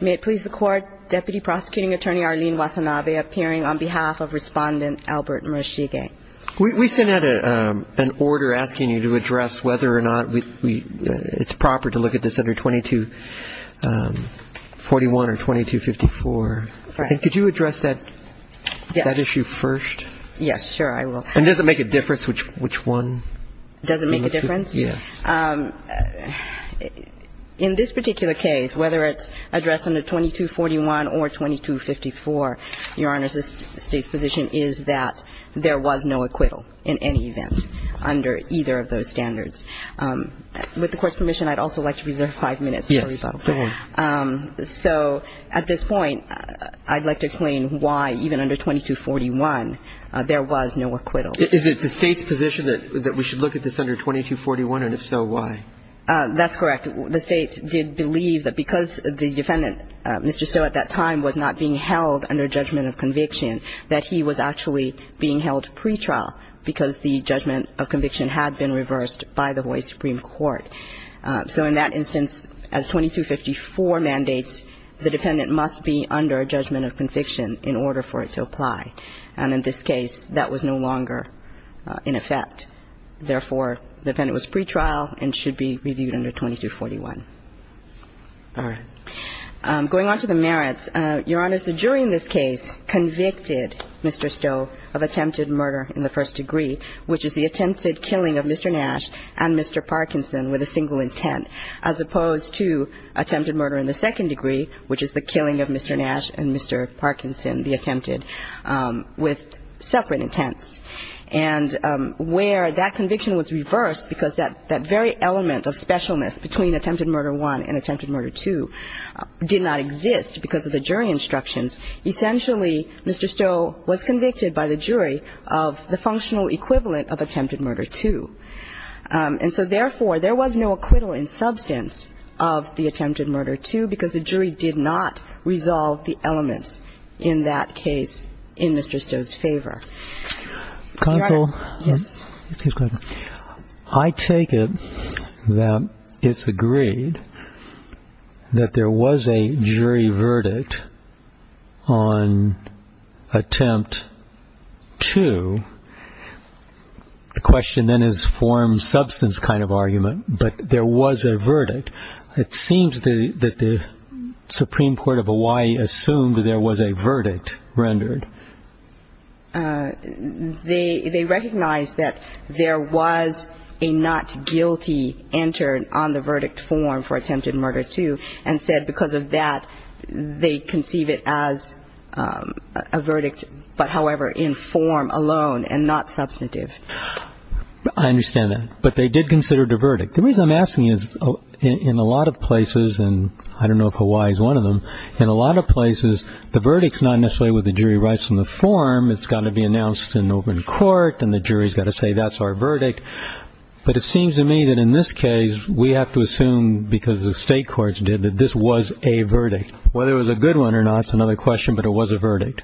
May it please the Court, Deputy Prosecuting Attorney Arlene Watanabe appearing on behalf of Respondent Albert Murashige. We sent out an order asking you to address whether or not it's proper to look at this under 2241 or 2254. Could you address that issue first? Yes, sure I will. And does it make a difference which one? Does it make a difference? Yes. In this particular case, whether it's addressed under 2241 or 2254, Your Honor, the State's position is that there was no acquittal in any event under either of those standards. With the Court's permission, I'd also like to reserve five minutes for rebuttal. Yes, go ahead. So at this point, I'd like to explain why even under 2241 there was no acquittal. Is it the State's position that we should look at this under 2241, and if so, why? That's correct. The State did believe that because the defendant, Mr. Stow, at that time was not being held under judgment of conviction, that he was actually being held pretrial because the judgment of conviction had been reversed by the Hawaii Supreme Court. So in that instance, as 2254 mandates, the defendant must be under judgment of conviction in order for it to apply. And in this case, that was no longer in effect. Therefore, the defendant was pretrial and should be reviewed under 2241. All right. Going on to the merits, Your Honor, the jury in this case convicted Mr. Stow of attempted murder in the first degree, which is the attempted killing of Mr. Nash and Mr. Parkinson with a single intent, as opposed to attempted murder in the second degree, which is the killing of Mr. Nash and Mr. Parkinson, the attempted, with separate intents. And where that conviction was reversed because that very element of specialness between attempted murder one and attempted murder two did not exist because of the jury instructions, essentially Mr. Stow was convicted by the jury of the functional equivalent of attempted murder two. And so therefore, there was no acquittal in substance of the attempted murder two because the jury did not resolve the elements in that case in Mr. Stow's favor. Your Honor. Counsel. Yes. Excuse me. I take it that it's agreed that there was a jury verdict on attempt two. The question then is form substance kind of argument, but there was a verdict. It seems that the Supreme Court of Hawaii assumed there was a verdict rendered. They recognized that there was a not guilty entered on the verdict form for attempted murder two and said because of that they conceive it as a verdict, but however, in form alone and not substantive. I understand that. But they did consider it a verdict. The reason I'm asking is in a lot of places, and I don't know if Hawaii is one of them, in a lot of places the verdict's not necessarily what the jury writes in the form. It's got to be announced in open court and the jury's got to say that's our verdict. But it seems to me that in this case we have to assume because the state courts did that this was a verdict. Whether it was a good one or not is another question, but it was a verdict.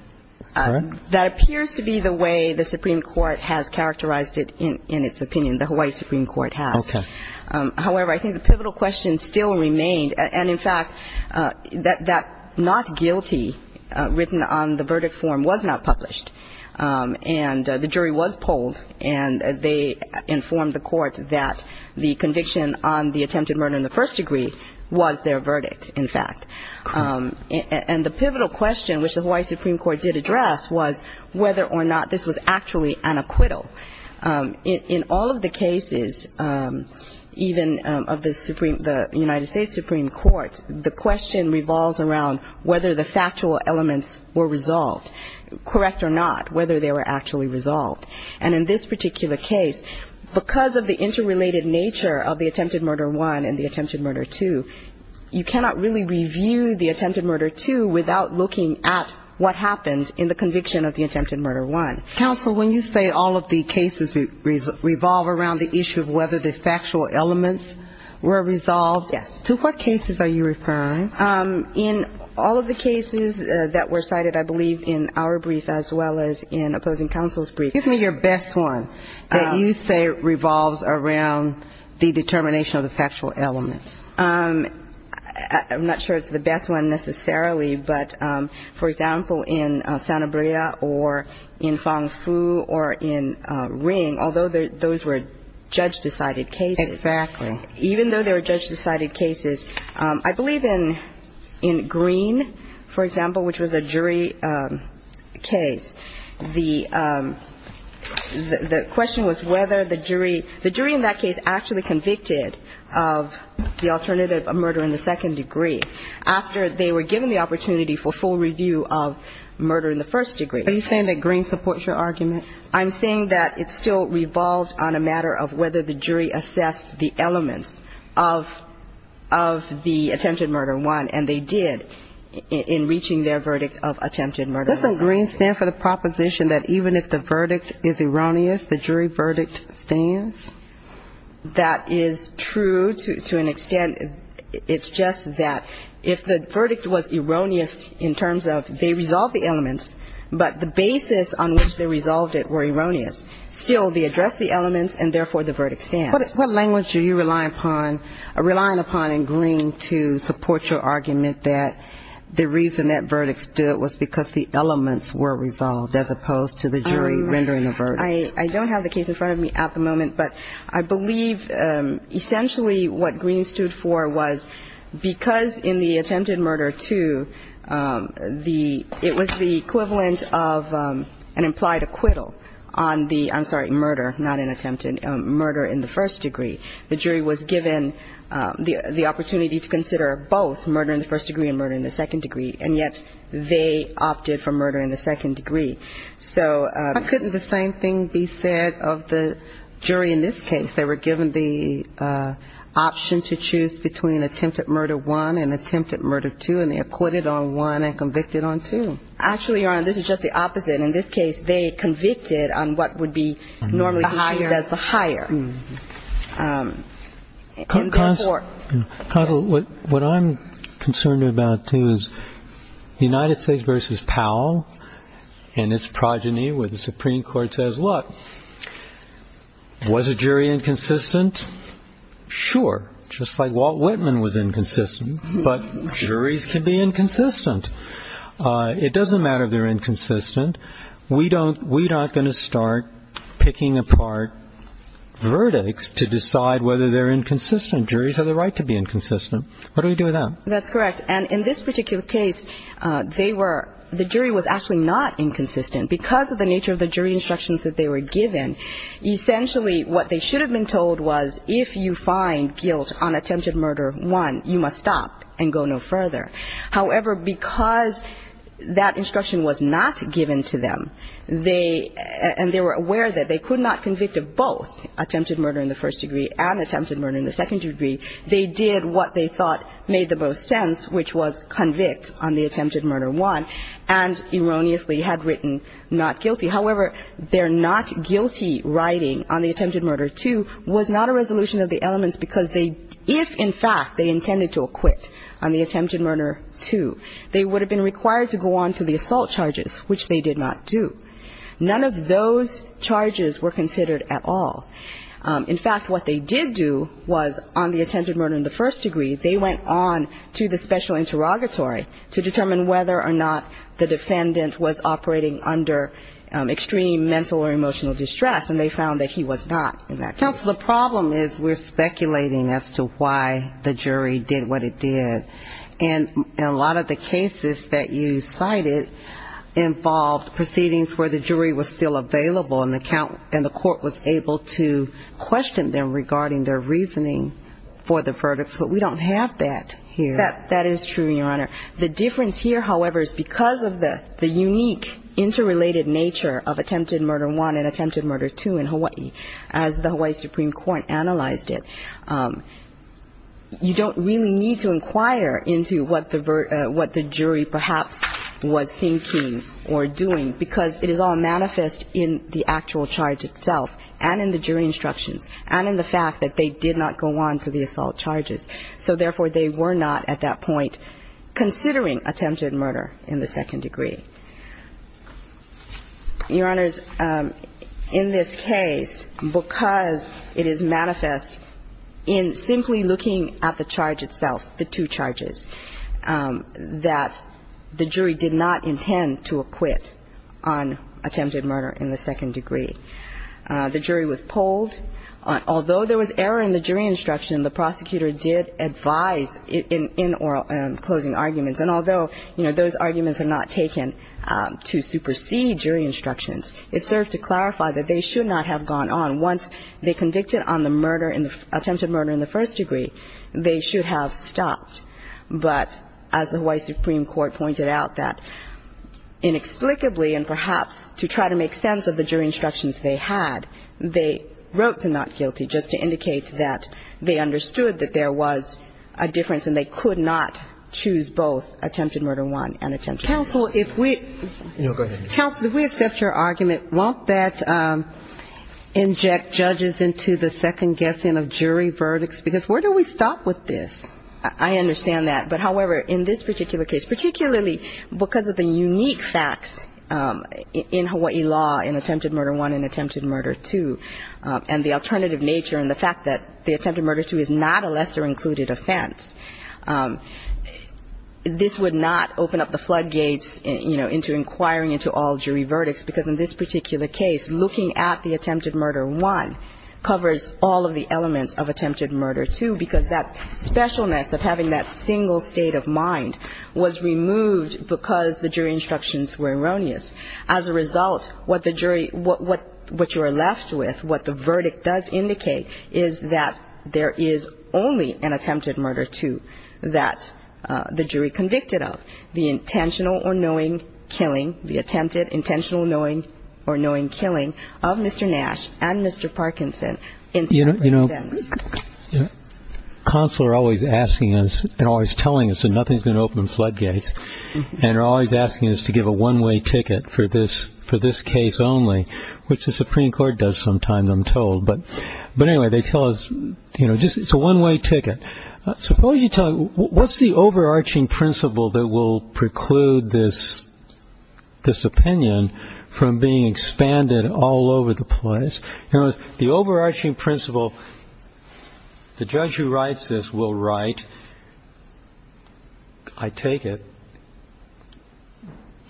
That appears to be the way the Supreme Court has characterized it in its opinion, the Hawaii Supreme Court has. Okay. However, I think the pivotal question still remained, and in fact, that that not guilty written on the verdict form was not published. And the jury was polled and they informed the court that the conviction on the attempted murder in the first degree was their verdict, in fact. And the pivotal question, which the Hawaii Supreme Court did address, was whether or not this was actually an acquittal. In all of the cases, even of the United States Supreme Court, the question revolves around whether the factual elements were resolved, correct or not, whether they were actually resolved. And in this particular case, because of the interrelated nature of the attempted murder one and the attempted murder two, you cannot really review the attempted murder two without looking at what happened in the conviction of the attempted murder one. Counsel, when you say all of the cases revolve around the issue of whether the factual elements were resolved, to what cases are you referring? In all of the cases that were cited, I believe, in our brief as well as in opposing counsel's brief. Give me your best one that you say revolves around the determination of the factual elements. I'm not sure it's the best one necessarily, but, for example, in Sanabria or in Fong Fu or in Ring, although those were judge-decided cases. Exactly. Even though they were judge-decided cases, I believe in Green, for example, which was a jury case, the question was whether the jury – the jury in that case actually convicted of, the alternative of murder in the second degree after they were given the opportunity for full review of murder in the first degree. Are you saying that Green supports your argument? I'm saying that it still revolved on a matter of whether the jury assessed the elements of the attempted murder one, and they did in reaching their verdict of attempted murder one. Doesn't Green stand for the proposition that even if the verdict is erroneous, the jury verdict stands? That is true to an extent. It's just that if the verdict was erroneous in terms of they resolved the elements, but the basis on which they resolved it were erroneous, still they addressed the elements and, therefore, the verdict stands. What language are you relying upon in Green to support your argument that the reason that verdict stood was because the elements were resolved as opposed to the jury rendering the verdict? I don't have the case in front of me at the moment. But I believe essentially what Green stood for was because in the attempted murder two, the – it was the equivalent of an implied acquittal on the – I'm sorry, murder, not an attempted murder in the first degree. The jury was given the opportunity to consider both murder in the first degree and murder in the second degree, and yet they opted for murder in the second degree. Couldn't the same thing be said of the jury in this case? They were given the option to choose between attempted murder one and attempted murder two, and they acquitted on one and convicted on two. Actually, Your Honor, this is just the opposite. In this case, they convicted on what would be normally considered as the higher. Counsel, what I'm concerned about, too, is United States v. Powell and its progeny where the Supreme Court says, look, was a jury inconsistent? Sure, just like Walt Whitman was inconsistent, but juries can be inconsistent. It doesn't matter if they're inconsistent. We don't – we aren't going to start picking apart verdicts to decide whether they're inconsistent. Juries have the right to be inconsistent. What do we do with that? That's correct. And in this particular case, they were – the jury was actually not inconsistent. Because of the nature of the jury instructions that they were given, essentially what they should have been told was if you find guilt on attempted murder one, you must stop and go no further. However, because that instruction was not given to them, they – and they were aware that they could not convict of both attempted murder in the first degree and attempted murder in the second degree, they did what they thought made the most sense, which was convict on the attempted murder one and erroneously had written not guilty. However, their not guilty writing on the attempted murder two was not a resolution of the elements because they – if, in fact, they intended to acquit on the attempted murder two, they would have been required to go on to the assault charges, which they did not do. None of those charges were considered at all. In fact, what they did do was on the attempted murder in the first degree, they went on to the special interrogatory to determine whether or not the defendant was operating under extreme mental or emotional distress, and they found that he was not in that case. Counsel, the problem is we're speculating as to why the jury did what it did. And a lot of the cases that you cited involved proceedings where the jury was still available and the court was able to question them regarding their reasoning for the verdicts. But we don't have that here. That is true, Your Honor. The difference here, however, is because of the unique interrelated nature of attempted murder one and attempted murder two in Hawaii, as the Hawaii Supreme Court analyzed it, you don't really need to inquire into what the jury perhaps was thinking or doing because it is all manifest in the actual charge itself and in the jury instructions and in the fact that they did not go on to the assault charges. So, therefore, they were not at that point considering attempted murder in the second degree. Your Honors, in this case, because it is manifest in simply looking at the charge itself, the two charges, that the jury did not intend to acquit on attempted murder in the second degree. The jury was polled. Although there was error in the jury instruction, the prosecutor did advise in closing arguments. And although, you know, those arguments are not taken to supersede jury instructions, it served to clarify that they should not have gone on. Once they convicted on the murder in the attempted murder in the first degree, they should have stopped. But as the Hawaii Supreme Court pointed out that inexplicably and perhaps to try to make sense of the jury instructions they had, they wrote the not guilty just to indicate that they understood that there was a difference and they could not choose both attempted murder one and attempted murder two. Counsel, if we accept your argument, won't that inject judges into the second guessing of jury verdicts? Because where do we stop with this? I understand that. But, however, in this particular case, particularly because of the unique facts in Hawaii law in attempted murder one and attempted murder two and the alternative nature and the fact that the attempted murder two is not a lesser included offense, this would not open up the floodgates, you know, into inquiring into all jury verdicts. Because in this particular case, looking at the attempted murder one covers all of the elements of attempted murder two because that specialness of having that single state of mind was removed because the jury instructions were erroneous. As a result, what the jury, what you are left with, what the verdict does indicate, is that there is only an attempted murder two that the jury convicted of, the intentional or knowing killing, the attempted intentional knowing or knowing killing of Mr. Nash and Mr. Parkinson in separate events. You know, counsel are always asking us and always telling us that nothing is going to open floodgates and are always asking us to give a one-way ticket for this case only, which the Supreme Court does sometimes, I'm told. But, anyway, they tell us, you know, it's a one-way ticket. Suppose you tell me, what's the overarching principle that will preclude this opinion from being expanded all over the place? You know, the overarching principle, the judge who writes this will write, I take it.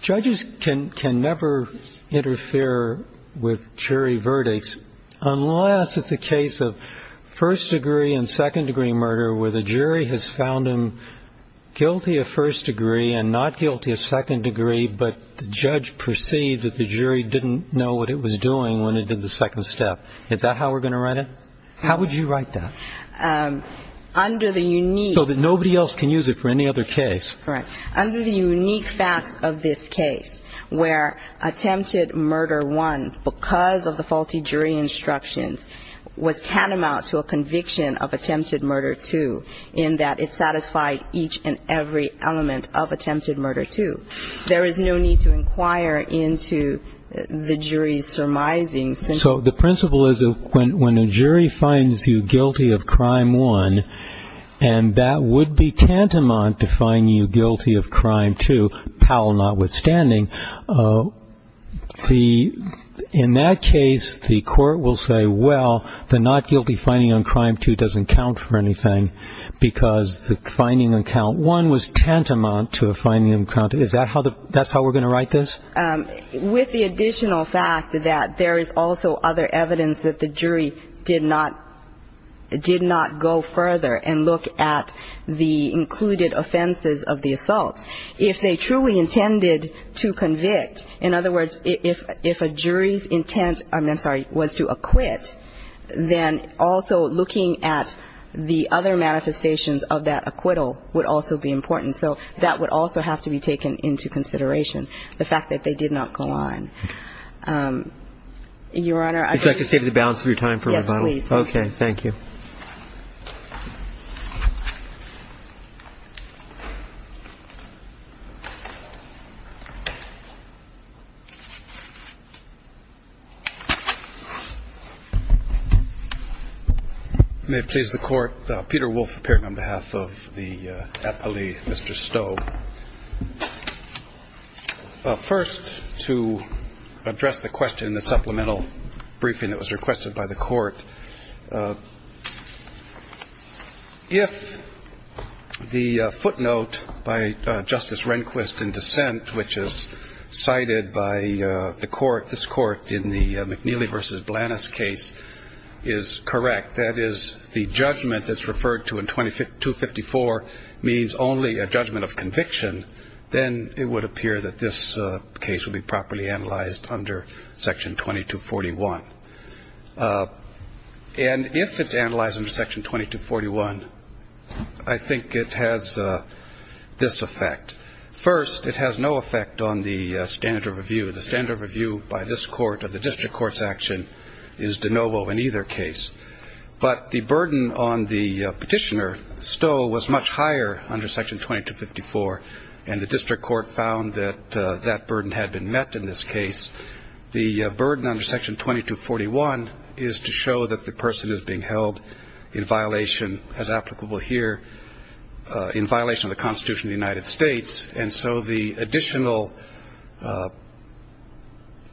Judges can never interfere with jury verdicts unless it's a case of first degree and second degree murder where the jury has found him guilty of first degree and not guilty of second degree, but the judge perceived that the jury didn't know what it was doing when it did the second step. Is that how we're going to write it? How would you write that? So that nobody else can use it for any other case. Correct. Under the unique facts of this case where attempted murder one, because of the faulty jury instructions, was catamount to a conviction of attempted murder two in that it satisfied each and every element of attempted murder two. There is no need to inquire into the jury's surmising. So the principle is when a jury finds you guilty of crime one, and that would be tantamount to finding you guilty of crime two, Powell notwithstanding, in that case the court will say, well, the not guilty finding on crime two doesn't count for anything because the finding on count one was tantamount to a finding on count two. Is that how we're going to write this? With the additional fact that there is also other evidence that the jury did not go further and look at the included offenses of the assaults. If they truly intended to convict, in other words, if a jury's intent was to acquit, then also looking at the other manifestations of that acquittal would also be important. So that would also have to be taken into consideration, the fact that they did not go on. Your Honor, I don't think... Would you like to save the balance of your time for rebuttal? Yes, please. Thank you. May it please the Court. Peter Wolf appeared on behalf of the appellee, Mr. Stowe. First, to address the question in the supplemental briefing that was requested by the Court, if the footnote by Justice Rehnquist in dissent, which is cited by the Court, this Court in the McNeely v. Blanas case is correct, that is the judgment that's referred to in 254 means only a judgment of conviction, then it would appear that this case would be properly analyzed under Section 2241. And if it's analyzed under Section 2241, I think it has this effect. First, it has no effect on the standard of review. The standard of review by this Court or the district court's action is de novo in either case. But the burden on the petitioner, Stowe, was much higher under Section 2254, and the district court found that that burden had been met in this case. The burden under Section 2241 is to show that the person is being held in violation, as applicable here, in violation of the Constitution of the United States. And so the additional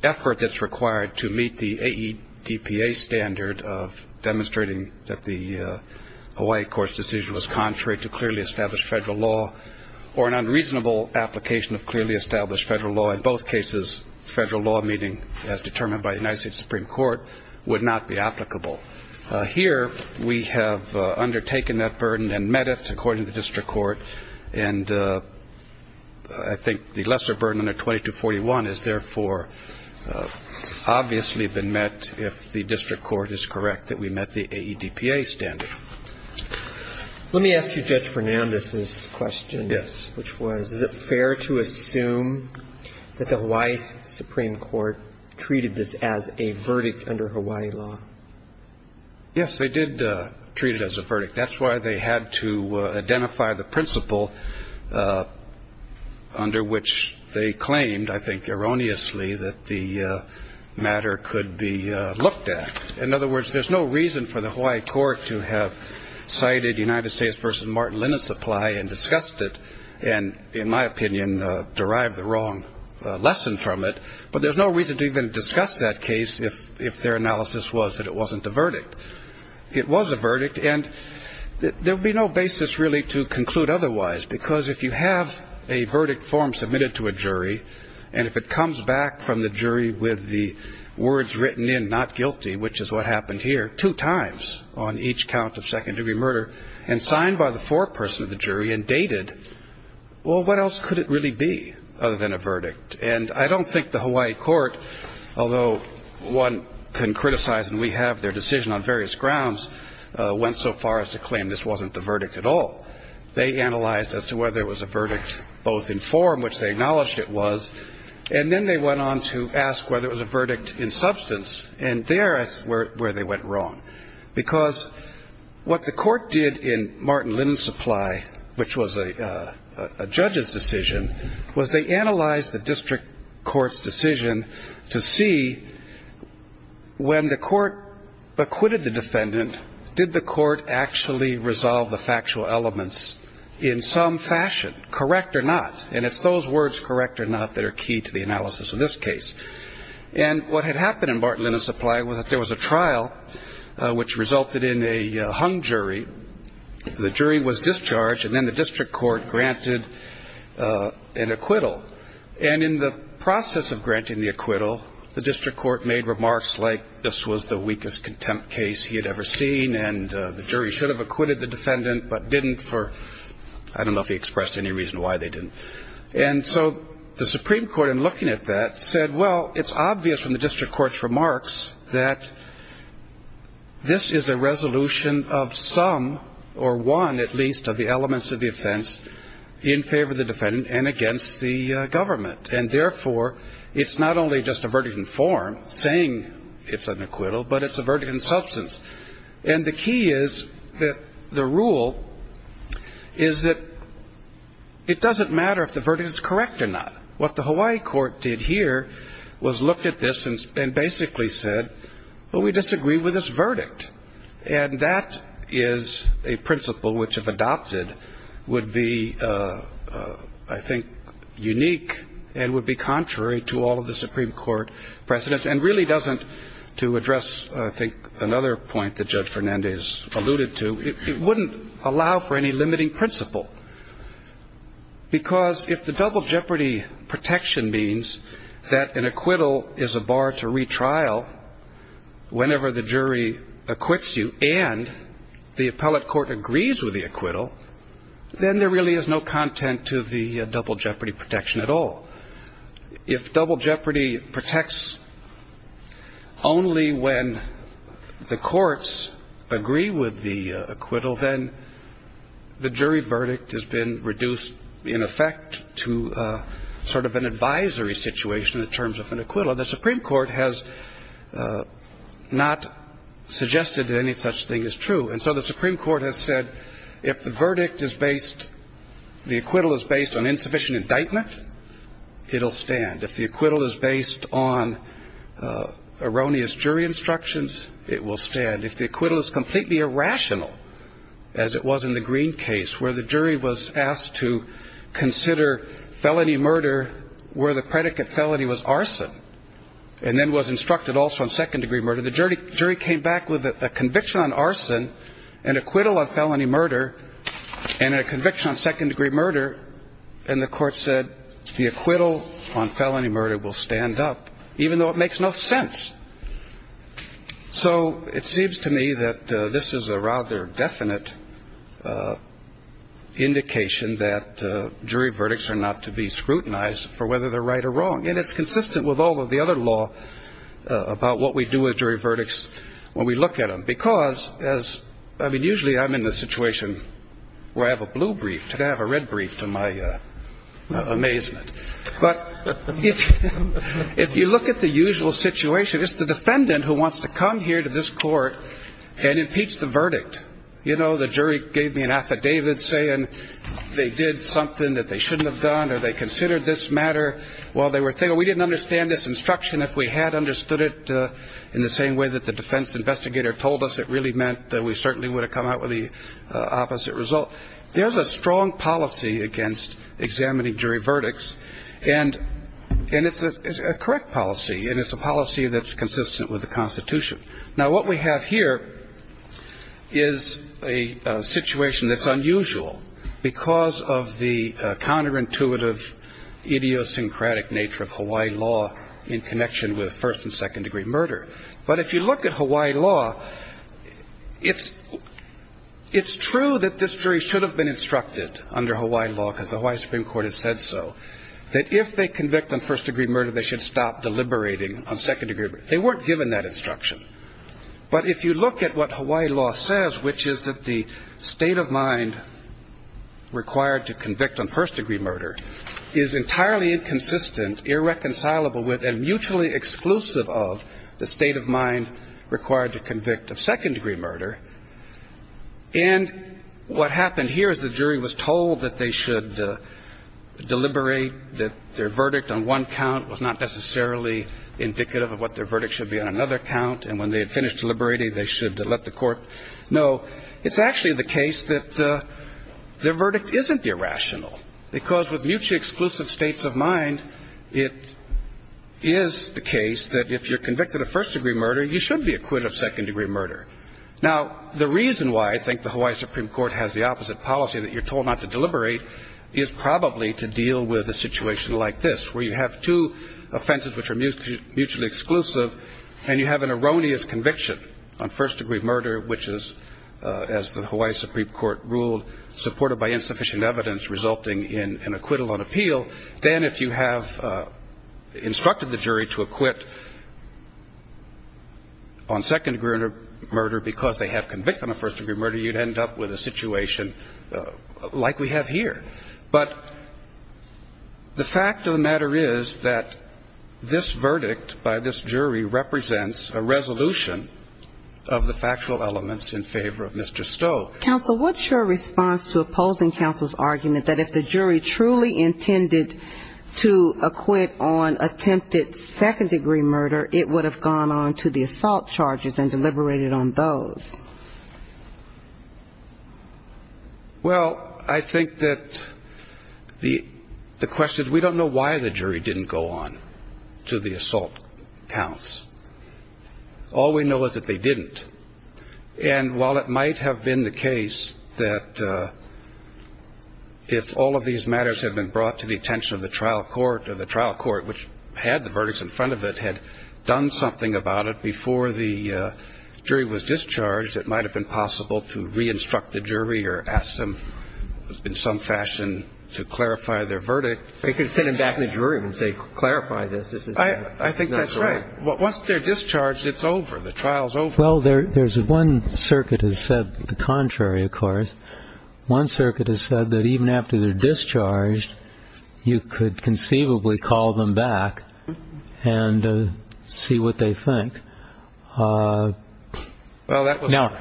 effort that's required to meet the AEDPA standard of demonstrating that the Hawaii Court's decision was contrary to clearly established federal law or an unreasonable application of clearly established federal law in both cases, federal law meaning as determined by the United States Supreme Court, would not be applicable. Here we have undertaken that burden and met it, according to the district court, and I think the lesser burden under 2241 has, therefore, obviously been met if the district court is correct that we met the AEDPA standard. Let me ask you Judge Fernandez's question. Yes. Which was, is it fair to assume that the Hawaii Supreme Court treated this as a verdict under Hawaii law? Yes, they did treat it as a verdict. That's why they had to identify the principle under which they claimed, I think erroneously, that the matter could be looked at. In other words, there's no reason for the Hawaii Court to have cited United States v. Martin Lennon Supply and discussed it and, in my opinion, derive the wrong lesson from it. But there's no reason to even discuss that case if their analysis was that it wasn't a verdict. It was a verdict, and there would be no basis, really, to conclude otherwise because if you have a verdict form submitted to a jury and if it comes back from the jury with the words written in, not guilty, which is what happened here, two times on each count of second-degree murder and signed by the foreperson of the jury and dated, well, what else could it really be other than a verdict? And I don't think the Hawaii Court, although one can criticize and we have their decision on various grounds, went so far as to claim this wasn't the verdict at all. They analyzed as to whether it was a verdict both in form, which they acknowledged it was, and then they went on to ask whether it was a verdict in substance, and there is where they went wrong. Because what the court did in Martin Lennon Supply, which was a judge's decision, was they analyzed the district court's decision to see when the court acquitted the defendant, did the court actually resolve the factual elements in some fashion, correct or not? And it's those words, correct or not, that are key to the analysis of this case. And what had happened in Martin Lennon Supply was that there was a trial which resulted in a hung jury. The jury was discharged and then the district court granted an acquittal. And in the process of granting the acquittal, the district court made remarks like this was the weakest contempt case he had ever seen and the jury should have acquitted the defendant but didn't for, I don't know if he expressed any reason why they didn't. And so the Supreme Court, in looking at that, said, well, it's obvious from the district court's remarks that this is a resolution of some, or one at least, of the elements of the offense in favor of the defendant and against the government. And therefore, it's not only just a verdict in form, saying it's an acquittal, but it's a verdict in substance. And the key is that the rule is that it doesn't matter if the verdict is correct or not. What the Hawaii court did here was looked at this and basically said, well, we disagree with this verdict. And that is a principle which, if adopted, would be, I think, unique and would be contrary to all of the Supreme Court precedents and really doesn't, to address, I think, another point that Judge Fernandez alluded to, it wouldn't allow for any limiting principle. Because if the double jeopardy protection means that an acquittal is a bar to retrial whenever the jury acquits you and the appellate court agrees with the acquittal, then there really is no content to the double jeopardy protection at all. If double jeopardy protects only when the courts agree with the acquittal, then the jury verdict has been reduced, in effect, to sort of an advisory situation in terms of an acquittal. The Supreme Court has not suggested that any such thing is true. And so the Supreme Court has said if the verdict is based, the acquittal is based on insufficient indictment, it will stand. If the acquittal is based on erroneous jury instructions, it will stand. If the acquittal is completely irrational, as it was in the Green case, where the jury was asked to consider felony murder where the predicate felony was arson and then was instructed also on second-degree murder, the jury came back with a conviction on arson, an acquittal on felony murder, and a conviction on second-degree murder, and the court said the acquittal on felony murder will stand up, even though it makes no sense. So it seems to me that this is a rather definite indication that jury verdicts are not to be scrutinized for whether they're right or wrong. And it's consistent with all of the other law about what we do with jury verdicts when we look at them. Because, as I mean, usually I'm in the situation where I have a blue brief, today I have a red brief to my amazement. But if you look at the usual situation, it's the defendant who wants to come here to this court and impeach the verdict. You know, the jury gave me an affidavit saying they did something that they shouldn't have done or they considered this matter while they were there. We didn't understand this instruction. If we had understood it in the same way that the defense investigator told us, it really meant that we certainly would have come out with the opposite result. There's a strong policy against examining jury verdicts, and it's a correct policy, Now, what we have here is a situation that's unusual because of the counterintuitive, idiosyncratic nature of Hawaii law in connection with first and second degree murder. But if you look at Hawaii law, it's true that this jury should have been instructed under Hawaii law, because the Hawaii Supreme Court has said so, that if they convict on first degree murder, they should stop deliberating on second degree murder. They weren't given that instruction. But if you look at what Hawaii law says, which is that the state of mind required to convict on first degree murder is entirely inconsistent, irreconcilable with, and mutually exclusive of the state of mind required to convict of second degree murder, and what happened here is the jury was told that they should deliberate, that their verdict on one count was not necessarily indicative of what their verdict should be on another count, and when they had finished deliberating, they should let the court know. It's actually the case that their verdict isn't irrational, because with mutually exclusive states of mind, it is the case that if you're convicted of first degree murder, you should be acquitted of second degree murder. Now, the reason why I think the Hawaii Supreme Court has the opposite policy, that you're told not to deliberate, is probably to deal with a situation like this, where you have two offenses which are mutually exclusive, and you have an erroneous conviction on first degree murder, which is, as the Hawaii Supreme Court ruled, supported by insufficient evidence resulting in an acquittal on appeal. Then, if you have instructed the jury to acquit on second degree murder because they have convicted on first degree murder, you'd end up with a situation like we have here. But the fact of the matter is that this verdict by this jury represents a resolution of the factual elements in favor of Mr. Stowe. Counsel, what's your response to opposing counsel's argument that if the jury truly intended to acquit on attempted second degree murder, it would have gone on to the assault charges and deliberated on those? Well, I think that the question is we don't know why the jury didn't go on to the assault counts. All we know is that they didn't. And while it might have been the case that if all of these matters had been brought to the attention of the trial court, or the trial court, which had the verdicts in front of it, had done something about it before the jury was discharged, it might have been possible to reinstruct the jury or ask them in some fashion to clarify their verdict. They could send them back to the jury and say, clarify this. I think that's right. Once they're discharged, it's over. The trial's over. Well, there's one circuit has said the contrary, of course. One circuit has said that even after they're discharged, you could conceivably call them back and see what they think. Now,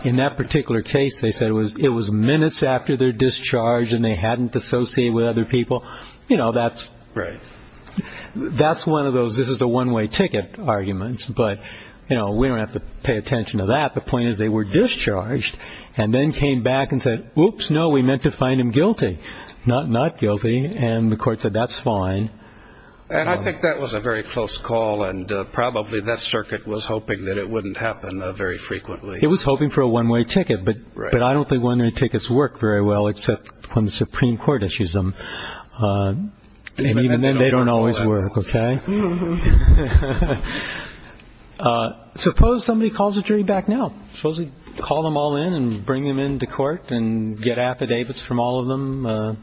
in that particular case, they said it was minutes after they're discharged and they hadn't dissociated with other people. You know, that's one of those this is a one way ticket arguments. But, you know, we don't have to pay attention to that. The point is they were discharged and then came back and said, oops, no, we meant to find them guilty. Not guilty. And the court said, that's fine. And I think that was a very close call. And probably that circuit was hoping that it wouldn't happen very frequently. It was hoping for a one way ticket. But I don't think one way tickets work very well, except when the Supreme Court issues them. And then they don't always work. OK. Suppose somebody calls a jury back now. Supposedly call them all in and bring them into court and get affidavits from all of them.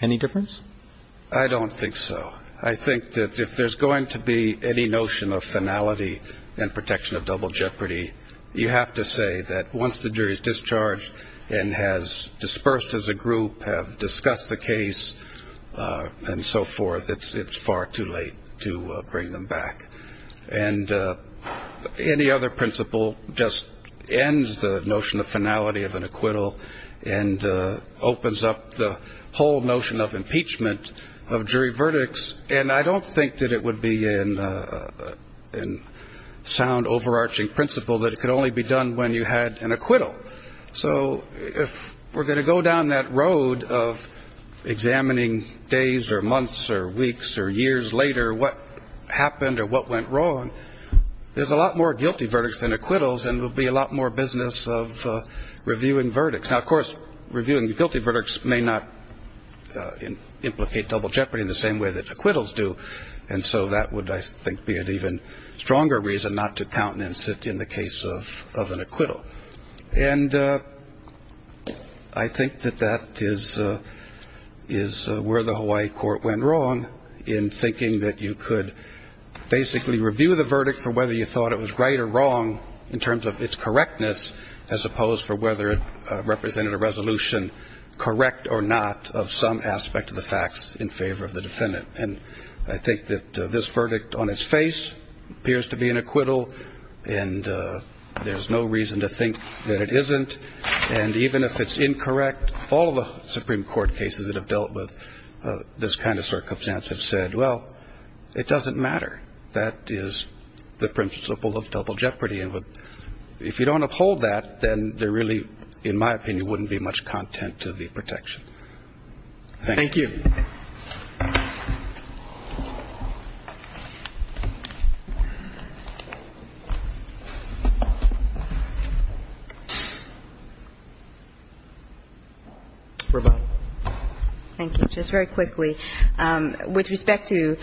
Any difference? I don't think so. I think that if there's going to be any notion of finality and protection of double jeopardy, you have to say that once the jury is discharged and has dispersed as a group, have discussed the case and so forth, it's far too late to bring them back. And any other principle just ends the notion of finality of an acquittal and opens up the whole notion of impeachment of jury verdicts. And I don't think that it would be in sound overarching principle that it could only be done when you had an acquittal. So if we're going to go down that road of examining days or months or weeks or years later what happened or what went wrong, there's a lot more guilty verdicts than acquittals, and it would be a lot more business of reviewing verdicts. Now, of course, reviewing the guilty verdicts may not implicate double jeopardy in the same way that acquittals do, and so that would, I think, be an even stronger reason not to countenance it in the case of an acquittal. And I think that that is where the Hawaii court went wrong in thinking that you could basically review the verdict for whether you thought it was right or wrong in terms of its correctness as opposed for whether it represented a resolution, correct or not, of some aspect of the facts in favor of the defendant. And I think that this verdict on its face appears to be an acquittal, and there's no reason to think that it isn't. And even if it's incorrect, all of the Supreme Court cases that have dealt with this kind of circumstance have said, well, it doesn't matter. That is the principle of double jeopardy. And if you don't uphold that, then there really, in my opinion, wouldn't be much content to the protection. Thank you. Roberts. Thank you. Just very quickly. With respect to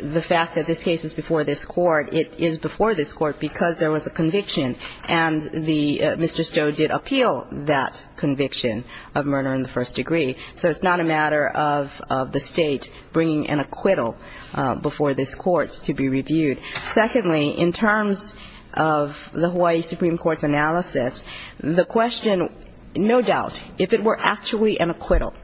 the fact that this case is before this Court, it is before this Court because there was a conviction and the Mr. Stowe did appeal that conviction of murder in the first degree. So it's not a matter of the State bringing an acquittal before this Court to be reviewed. Secondly, in terms of the Hawaii Supreme Court's analysis, the question, no doubt, if it were actually an acquittal,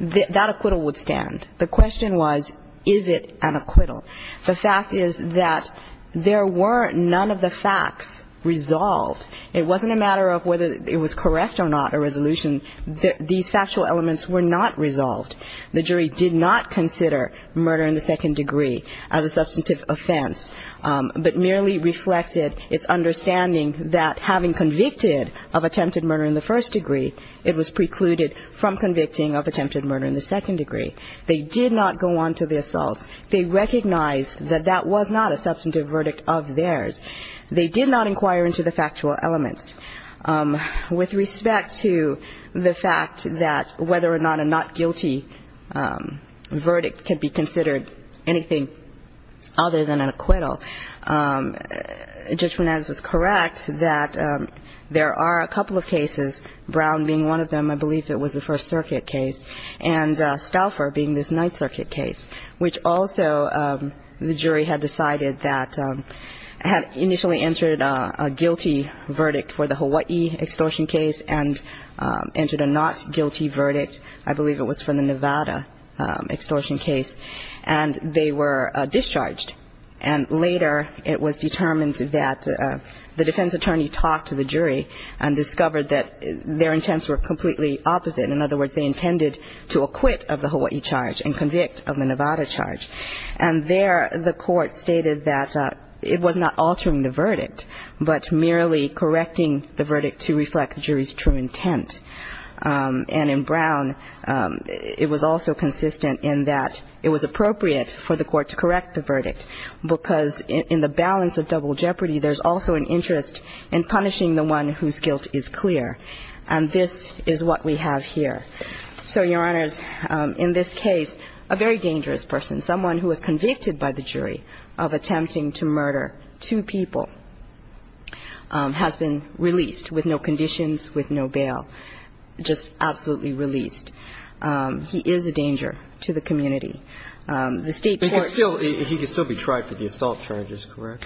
that acquittal would stand. The question was, is it an acquittal? The fact is that there were none of the facts resolved. It wasn't a matter of whether it was correct or not, a resolution. These factual elements were not resolved. The jury did not consider murder in the second degree as a substantive offense, but merely reflected its understanding that having convicted of attempted murder in the first degree, it was precluded from convicting of attempted murder in the second degree. They did not go on to the assaults. They recognized that that was not a substantive verdict of theirs. They did not inquire into the factual elements. With respect to the fact that whether or not a not guilty verdict can be considered anything other than an acquittal, Judge Monaz is correct that there are a couple of cases, Brown being one of them, I believe it was the First Circuit case, and Stauffer being this Ninth Circuit case, which also the jury had decided that had initially entered a guilty verdict for the first degree. I believe it was for the Hawaii extortion case and entered a not guilty verdict. I believe it was for the Nevada extortion case. And they were discharged. And later it was determined that the defense attorney talked to the jury and discovered that their intents were completely opposite. In other words, they intended to acquit of the Hawaii charge and convict of the Nevada charge. And in Brown, it was also consistent in that it was appropriate for the court to correct the verdict because in the balance of double jeopardy, there's also an interest in punishing the one whose guilt is clear. And this is what we have here. So, Your Honors, in this case, a very dangerous person, someone who was convicted by the jury of attempting to murder two people, has been released with no conditions, with no bail. Just absolutely released. He is a danger to the community. The State court... But he can still be tried for the assault charges, correct?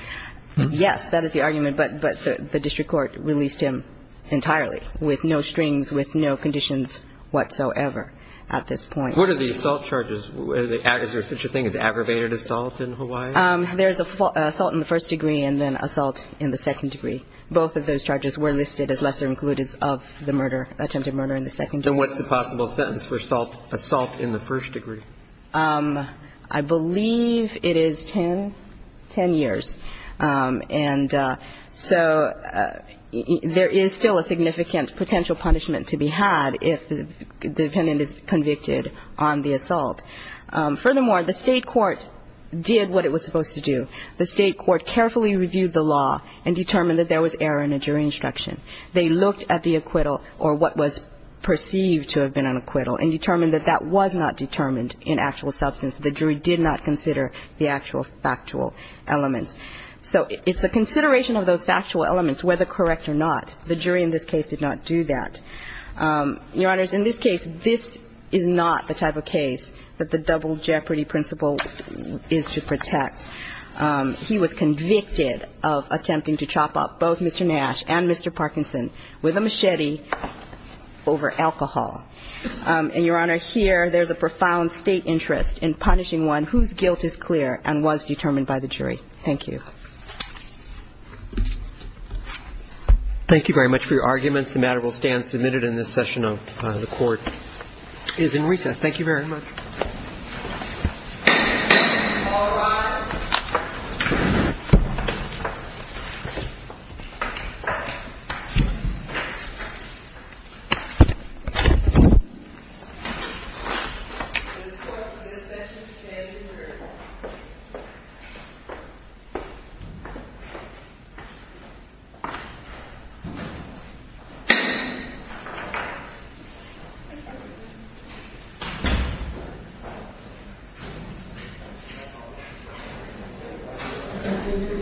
Yes, that is the argument. But the district court released him entirely with no strings, with no conditions whatsoever at this point. Is there such a thing as aggravated assault in Hawaii? There's assault in the first degree and then assault in the second degree. Both of those charges were listed as lesser inclusives of the murder, attempted murder in the second degree. And what's the possible sentence for assault in the first degree? I believe it is 10 years. And so there is still a significant potential punishment to be had if the defendant is convicted on the assault. Furthermore, the State court did what it was supposed to do. The State court carefully reviewed the law and determined that there was error in a jury instruction. They looked at the acquittal or what was perceived to have been an acquittal and determined that that was not determined in actual substance. The jury did not consider the actual factual elements. So it's a consideration of those factual elements, whether correct or not. The jury in this case did not do that. Your Honors, in this case, this is not the type of case that the double jeopardy principle is to protect. He was convicted of attempting to chop up both Mr. Nash and Mr. Parkinson with a machete over alcohol. And, Your Honor, here there's a profound State interest in punishing one whose guilt is clear and was determined by the jury. Thank you. Thank you very much for your arguments. The matter will stand submitted in this session of the court. It is in recess. Thank you very much. All rise. The court for this session stands adjourned. Thank you. Thank you. Thank you. Yes.